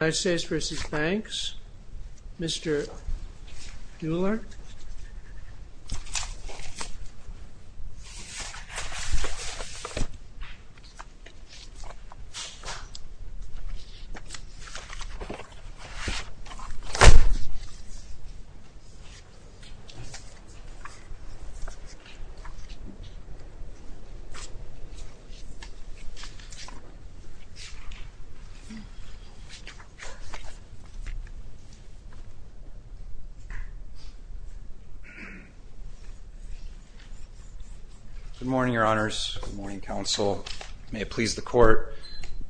United States v. Banks, Mr. Dueller Good morning, your honors. Good morning, counsel. May it please the court.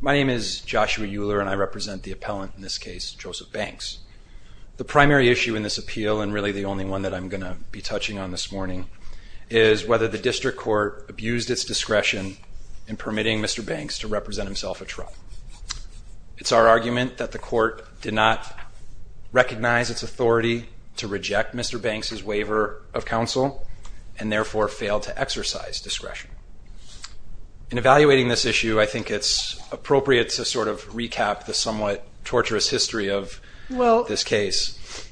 My name is Joshua Dueller, and I represent the appellant in this case, Joseph Banks. The primary issue in this appeal, and really the only one that I'm going to be touching on this morning, is whether the district court abused its discretion in permitting Mr. Banks to represent himself at trial. It's our argument that the court did not recognize its authority to reject Mr. Banks's waiver of counsel, and therefore failed to exercise discretion. In evaluating this issue, I think it's appropriate to sort of recap the somewhat torturous history of this case.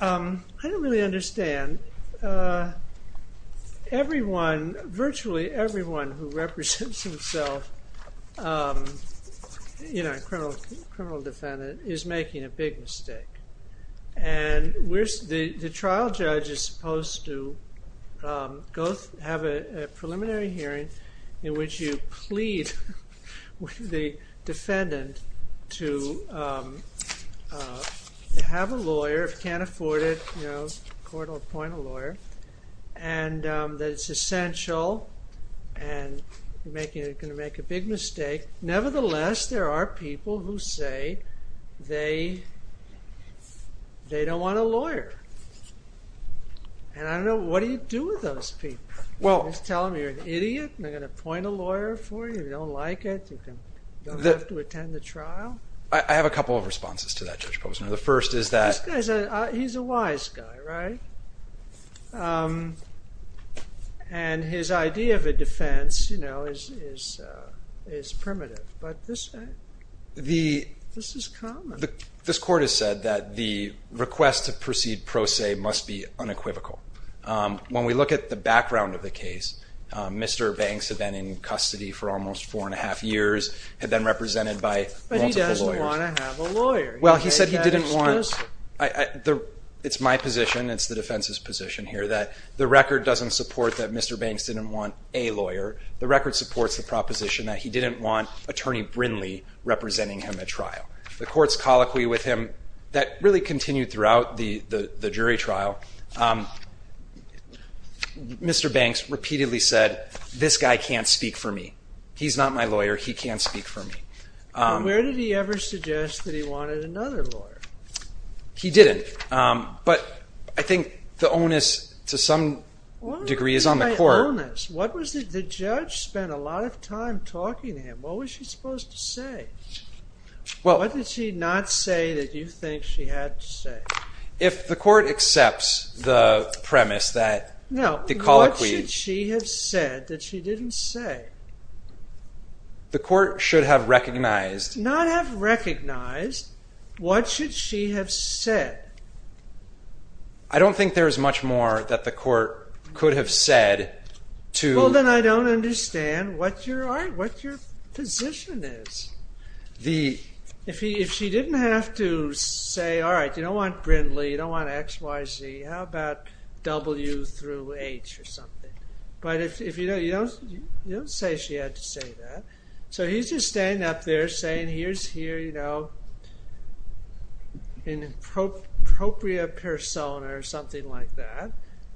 I don't really understand. Virtually everyone who represents himself, a criminal defendant, is making a big mistake. The trial judge is supposed to have a preliminary hearing in which you plead with the defendant to have a lawyer, if you can't afford it, court will appoint a lawyer, and that it's essential. And you're going to make a big mistake. Nevertheless, there are people who say they don't want a lawyer. And I don't know, what do you do with those people? You just tell them you're an idiot, and they're going to appoint a lawyer for you if you don't like it, you don't have to attend the trial? I have a couple of responses to that, Judge Posner. The first is that He's a wise guy, right? And his idea of a defense is primitive, but this is common. This court has said that the request to proceed pro se must be unequivocal. When we look at the background of the case, Mr. Banks had been in custody for almost four and a half years, had been represented by multiple lawyers. Well, he said he didn't want, it's my position, it's the defense's position here, that the record doesn't support that Mr. Banks didn't want a lawyer. The record supports the proposition that he didn't want Attorney Brinley representing him at trial. The court's colloquy with him, that really continued throughout the jury trial. Mr. Banks repeatedly said, this guy can't speak for me. He's not my lawyer, he can't speak for me. Where did he ever suggest that he wanted another lawyer? He didn't, but I think the onus to some degree is on the court. What was my onus? The judge spent a lot of time talking to him. What was she supposed to say? What did she not say that you think she had to say? If the court accepts the premise that the colloquy What should she have said that she didn't say? The court should have recognized Not have recognized, what should she have said? I don't think there's much more that the court could have said to Well, then I don't understand what your position is. If she didn't have to say, all right, you don't want Brinley, you don't want X, Y, Z, how about W through H or something? But if you don't say she had to say that. So he's just staying up there saying, here's here, you know, an appropriate persona or something like that.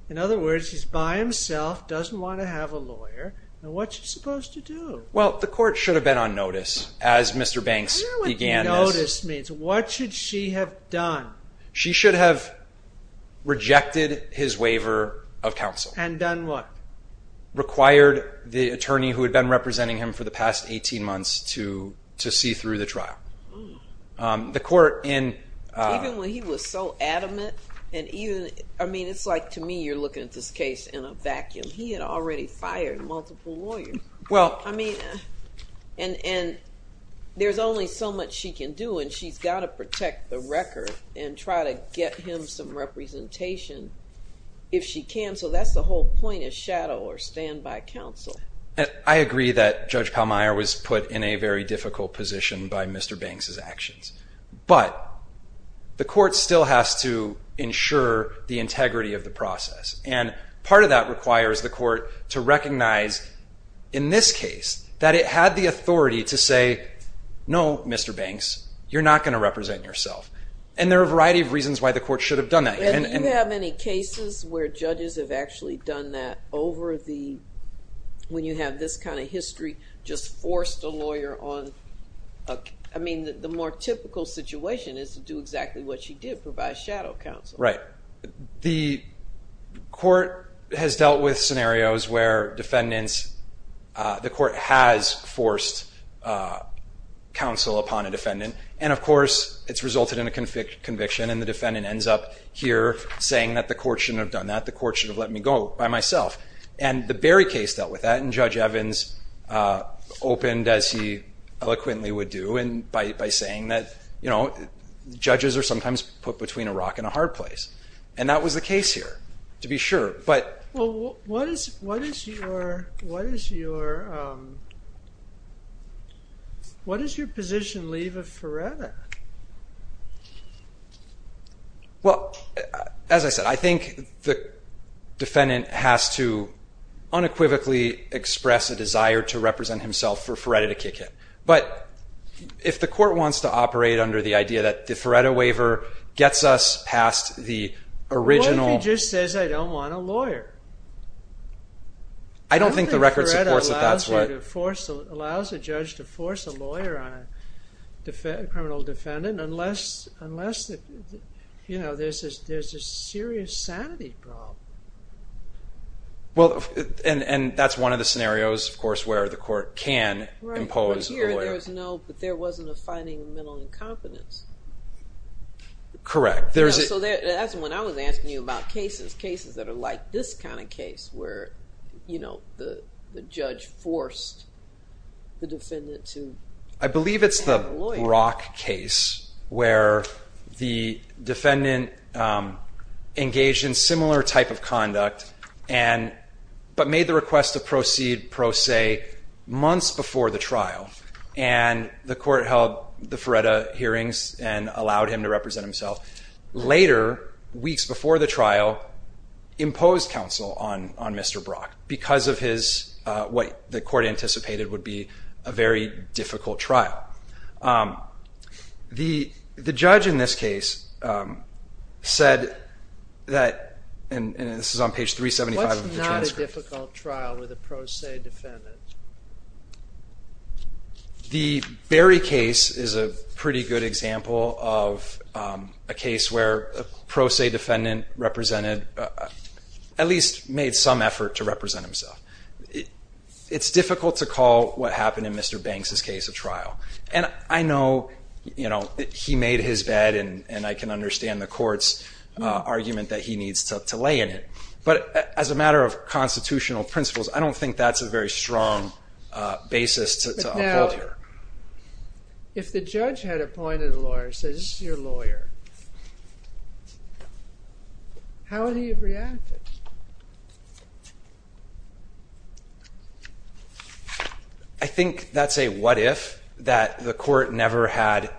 In other words, he's by himself, doesn't want to have a lawyer. And what's he supposed to do? Well, the court should have been on notice as Mr. Banks began this. I don't know what notice means. What should she have done? She should have rejected his waiver of counsel. And done what? Required the attorney who had been representing him for the past 18 months to see through the trial. The court in Even when he was so adamant. And even I mean, it's like to me, you're looking at this case in a vacuum. He had already fired multiple lawyers. Well, I mean, and there's only so much she can do. And she's got to protect the record and try to get him some representation. If she can. So that's the whole point is shadow or stand by counsel. I agree that Judge Palmeier was put in a very difficult position by Mr. Banks's actions. But the court still has to ensure the integrity of the process. And part of that requires the court to recognize in this case that it had the authority to say, no, Mr. Banks, you're not going to represent yourself. And there are a variety of reasons why the court should have done that. Do you have any cases where judges have actually done that over the, when you have this kind of history, just forced a lawyer on? I mean, the more typical situation is to do exactly what she did, provide shadow counsel. Right. The court has dealt with scenarios where defendants, the court has forced counsel upon a defendant. And of course, it's resulted in a conviction and the defendant ends up here saying that the court shouldn't have done that. The court should have let me go by myself. And the Berry case dealt with that. And Judge Evans opened as he eloquently would do. And by saying that, you know, judges are sometimes put between a rock and a hard place. And that was the case here, to be sure. What is your position leave of Feretta? Well, as I said, I think the defendant has to unequivocally express a desire to represent himself for Feretta to kick it. But if the court wants to operate under the idea that the Feretta waiver gets us past the original. What if he just says, I don't want a lawyer? I don't think the record supports that. I don't think Feretta allows a judge to force a lawyer on a criminal defendant unless, you know, there's a serious sanity problem. Well, and that's one of the scenarios, of course, where the court can impose a lawyer. Right, but here there was no, there wasn't a finding of mental incompetence. Correct. So that's when I was asking you about cases, cases that are like this kind of case where, you know, the judge forced the defendant to have a lawyer. I believe it's the Brock case where the defendant engaged in similar type of conduct and, but made the request to proceed pro se months before the trial. And the court held the Feretta hearings and allowed him to represent himself. Later, weeks before the trial, imposed counsel on Mr. Brock because of his, what the court anticipated would be a very difficult trial. The judge in this case said that, and this is on page 375 of the transcript. Difficult trial with a pro se defendant. The Berry case is a pretty good example of a case where a pro se defendant represented, at least made some effort to represent himself. It's difficult to call what happened in Mr. Banks's case a trial. And I know, you know, he made his bed and I can understand the court's argument that he needs to lay in it. But as a matter of constitutional principles, I don't think that's a very strong basis to uphold here. But now, if the judge had appointed a lawyer and said, this is your lawyer, how would he have reacted? I think that's a what if that the court never had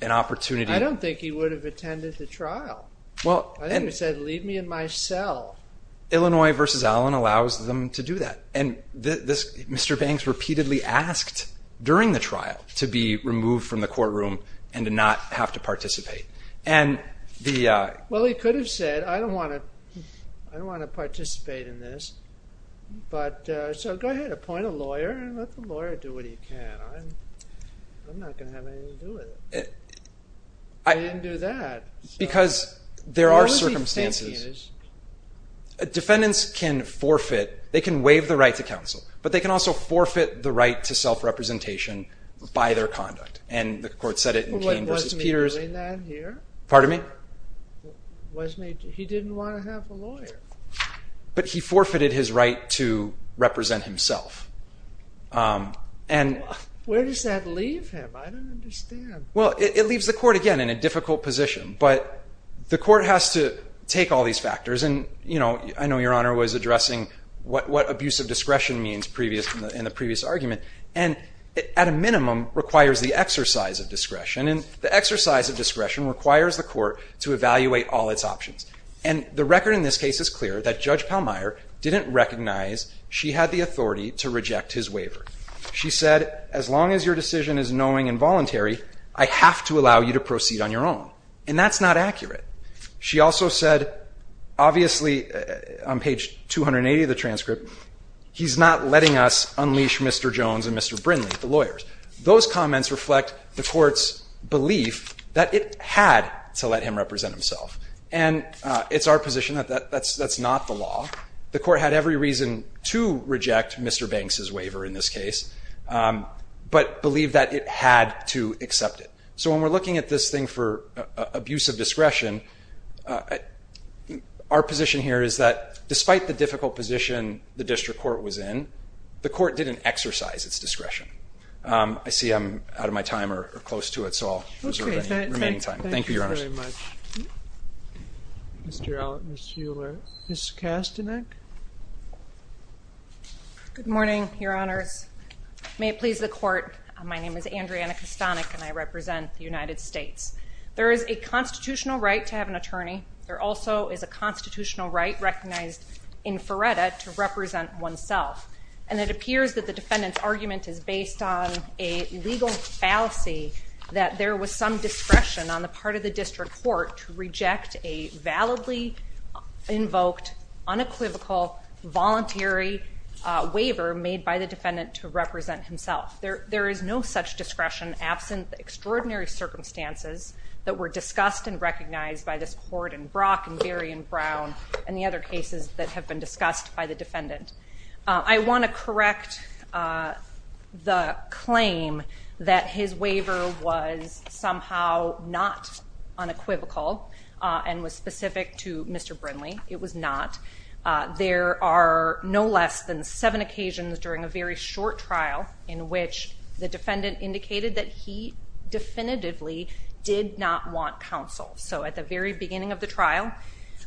an opportunity. I don't think he would have attended the trial. I think he said, leave me in my cell. Illinois v. Allen allows them to do that. Mr. Banks repeatedly asked during the trial to be removed from the courtroom and to not have to participate. Well, he could have said, I don't want to participate in this. So go ahead, appoint a lawyer and let the lawyer do what he can. I'm not going to have anything to do with it. He didn't do that. Because there are circumstances. Defendants can forfeit. They can waive the right to counsel, but they can also forfeit the right to self-representation by their conduct. And the court said it in Keene v. Peters. Pardon me? He didn't want to have a lawyer. But he forfeited his right to represent himself. Where does that leave him? I don't understand. Well, it leaves the court, again, in a difficult position. But the court has to take all these factors. And, you know, I know Your Honor was addressing what abuse of discretion means in the previous argument. And at a minimum requires the exercise of discretion. And the exercise of discretion requires the court to evaluate all its options. And the record in this case is clear that Judge Pallmeyer didn't recognize she had the authority to reject his waiver. She said, as long as your decision is knowing and voluntary, I have to allow you to proceed on your own. And that's not accurate. She also said, obviously, on page 280 of the transcript, he's not letting us unleash Mr. Jones and Mr. Brindley, the lawyers. Those comments reflect the court's belief that it had to let him represent himself. And it's our position that that's not the law. The court had every reason to reject Mr. Banks's waiver in this case, but believed that it had to accept it. So when we're looking at this thing for abuse of discretion, our position here is that, despite the difficult position the district court was in, the court didn't exercise its discretion. I see I'm out of my time or close to it, so I'll reserve any remaining time. Thank you, Your Honor. Thank you very much. Mr. Allitt and Ms. Hewler. Ms. Kastanek? Good morning, Your Honors. May it please the court, my name is Andrea Kastanek, and I represent the United States. There is a constitutional right to have an attorney. There also is a constitutional right recognized in FERRETA to represent oneself. And it appears that the defendant's argument is based on a legal fallacy that there was some discretion on the part of the district court to reject a validly invoked, unequivocal, voluntary waiver made by the defendant to represent himself. There is no such discretion absent the extraordinary circumstances that were discussed and recognized by this court in Brock and Berry and Brown and the other cases that have been discussed by the defendant. I want to correct the claim that his waiver was somehow not unequivocal and was specific to Mr. Brinley. It was not. There are no less than seven occasions during a very short trial in which the defendant indicated that he definitively did not want counsel. So at the very beginning of the trial,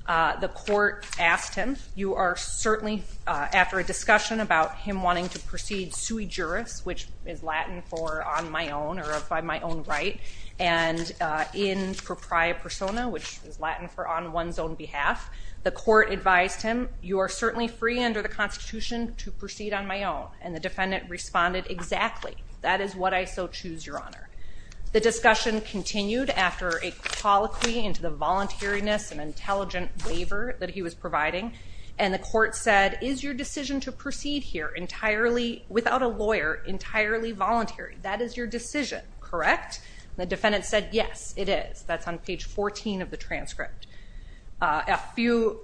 the court asked him, you are certainly, after a discussion about him wanting to proceed sui juris, which is Latin for on my own or by my own right, and in propria persona, which is Latin for on one's own behalf, the court advised him, you are certainly free under the Constitution to proceed on my own. And the defendant responded, exactly. That is what I so choose, Your Honor. The discussion continued after a colloquy into the voluntariness and intelligent waiver that he was providing. And the court said, is your decision to proceed here entirely without a lawyer, entirely voluntary? That is your decision, correct? The defendant said, yes, it is. That's on page 14 of the transcript. A few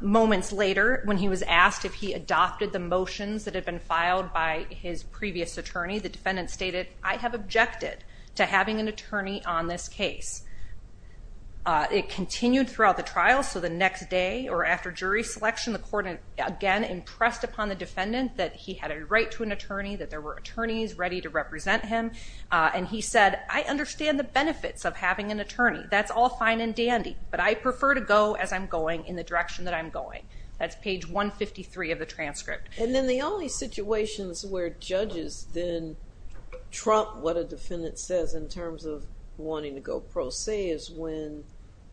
moments later, when he was asked if he adopted the motions that had been filed by his previous attorney, the defendant stated, I have objected to having an attorney on this case. It continued throughout the trial. So the next day or after jury selection, the court again impressed upon the defendant that he had a right to an attorney, that there were attorneys ready to represent him. And he said, I understand the benefits of having an attorney. That's all fine and dandy, but I prefer to go as I'm going in the direction that I'm going. That's page 153 of the transcript. And then the only situations where judges then trump what a defendant says in terms of wanting to go pro se is when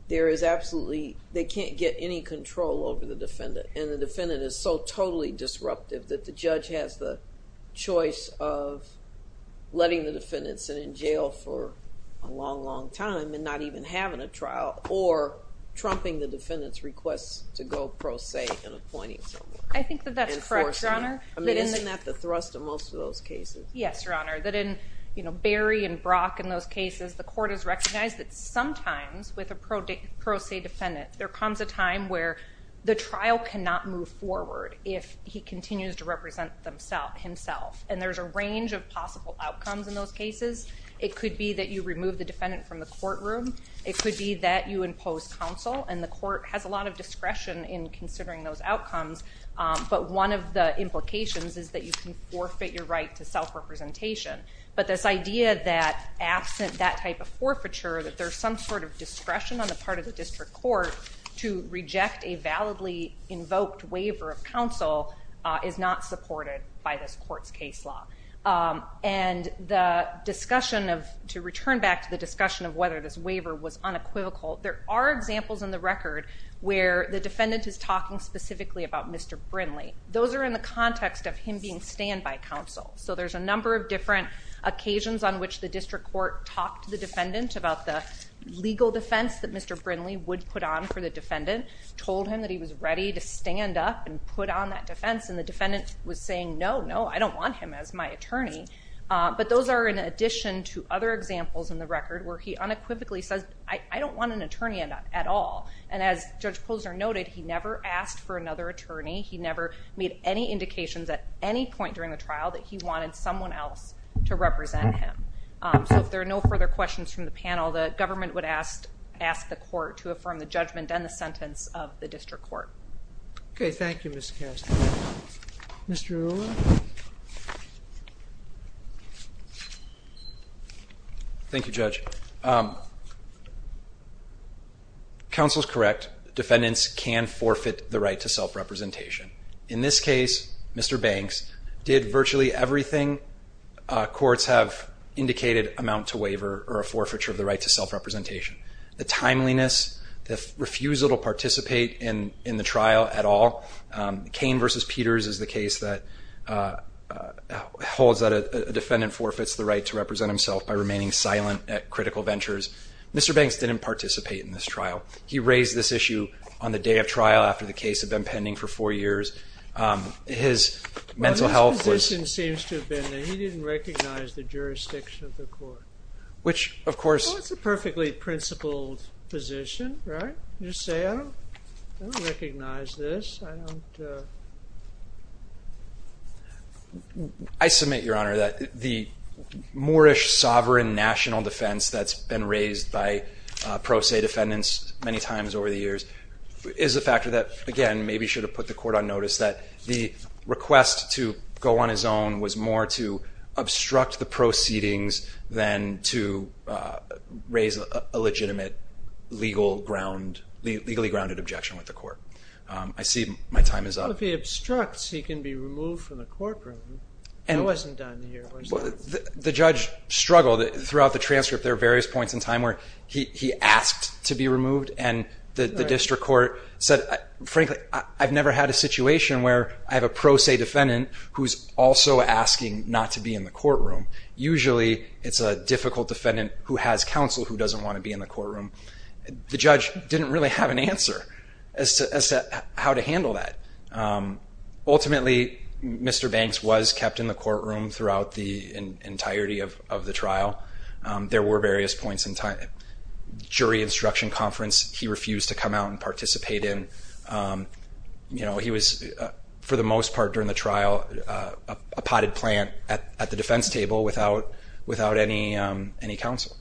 there is absolutely, they can't get any control over the defendant. And the defendant is so totally disruptive that the judge has the choice of letting the defendant sit in jail for a long, long time and not even having a trial or trumping the defendant's request to go pro se in appointing someone. I think that that's correct, Your Honor. Isn't that the thrust of most of those cases? Yes, Your Honor. That in Barry and Brock and those cases, the court has recognized that sometimes with a pro se defendant, there comes a time where the trial cannot move forward if he continues to represent himself. And there's a range of possible outcomes in those cases. It could be that you remove the defendant from the courtroom. It could be that you impose counsel. And the court has a lot of discretion in considering those outcomes. But one of the implications is that you can forfeit your right to self-representation. But this idea that absent that type of forfeiture, that there's some sort of discretion on the part of the district court to reject a validly invoked waiver of counsel is not supported by this court's case law. And to return back to the discussion of whether this waiver was unequivocal, there are examples in the record where the defendant is talking specifically about Mr. Brindley. Those are in the context of him being stand-by counsel. So there's a number of different occasions on which the district court talked to the defendant about the legal defense that Mr. Brindley would put on for the defendant, told him that he was ready to stand up and put on that defense, and the defendant was saying, no, no, I don't want him as my attorney. But those are in addition to other examples in the record where he unequivocally says, I don't want an attorney at all. And as Judge Posner noted, he never asked for another attorney. He never made any indications at any point during the trial that he wanted someone else to represent him. So if there are no further questions from the panel, the government would ask the court to affirm the judgment and the sentence of the district court. Okay, thank you, Mr. Kastner. Mr. Arulla? Thank you, Judge. Counsel is correct. Defendants can forfeit the right to self-representation. In this case, Mr. Banks, did virtually everything courts have indicated amount to waiver or a forfeiture of the right to self-representation. The timeliness, the refusal to participate in the trial at all. Cain v. Peters is the case that holds that a defendant forfeits the right to represent himself by remaining silent at critical ventures. Mr. Banks didn't participate in this trial. He raised this issue on the day of trial after the case had been pending for four years. His mental health was- Well, his position seems to have been that he didn't recognize the jurisdiction of the court. Which, of course- Well, it's a perfectly principled position, right? You just say, I don't recognize this. I don't- I submit, Your Honor, that the Moorish sovereign national defense that's been raised by pro se defendants many times over the years is a factor that, again, maybe should have put the court on notice, that the request to go on his own was more to obstruct the proceedings than to raise a legitimate legally grounded objection with the court. I see my time is up. Well, if he obstructs, he can be removed from the courtroom. It wasn't done here. The judge struggled. Throughout the transcript, there were various points in time where he asked to be removed, and the district court said, frankly, I've never had a situation where I have a pro se defendant who's also asking not to be in the courtroom. Usually, it's a difficult defendant who has counsel who doesn't want to be in the courtroom. The judge didn't really have an answer as to how to handle that. Ultimately, Mr. Banks was kept in the courtroom throughout the entirety of the trial. There were various points in time. Jury instruction conference, he refused to come out and participate in. He was, for the most part during the trial, a potted plant at the defense table without any counsel.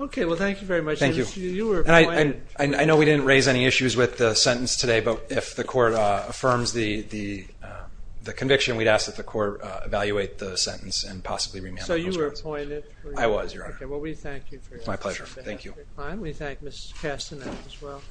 Okay. Well, thank you very much. Thank you. I know we didn't raise any issues with the sentence today, but if the court affirms the conviction, we'd ask that the court evaluate the sentence and possibly remand those words. So you were appointed? I was, Your Honor. Okay. Well, we thank you for your time. My pleasure. Thank you. We thank Ms. Castanet as well.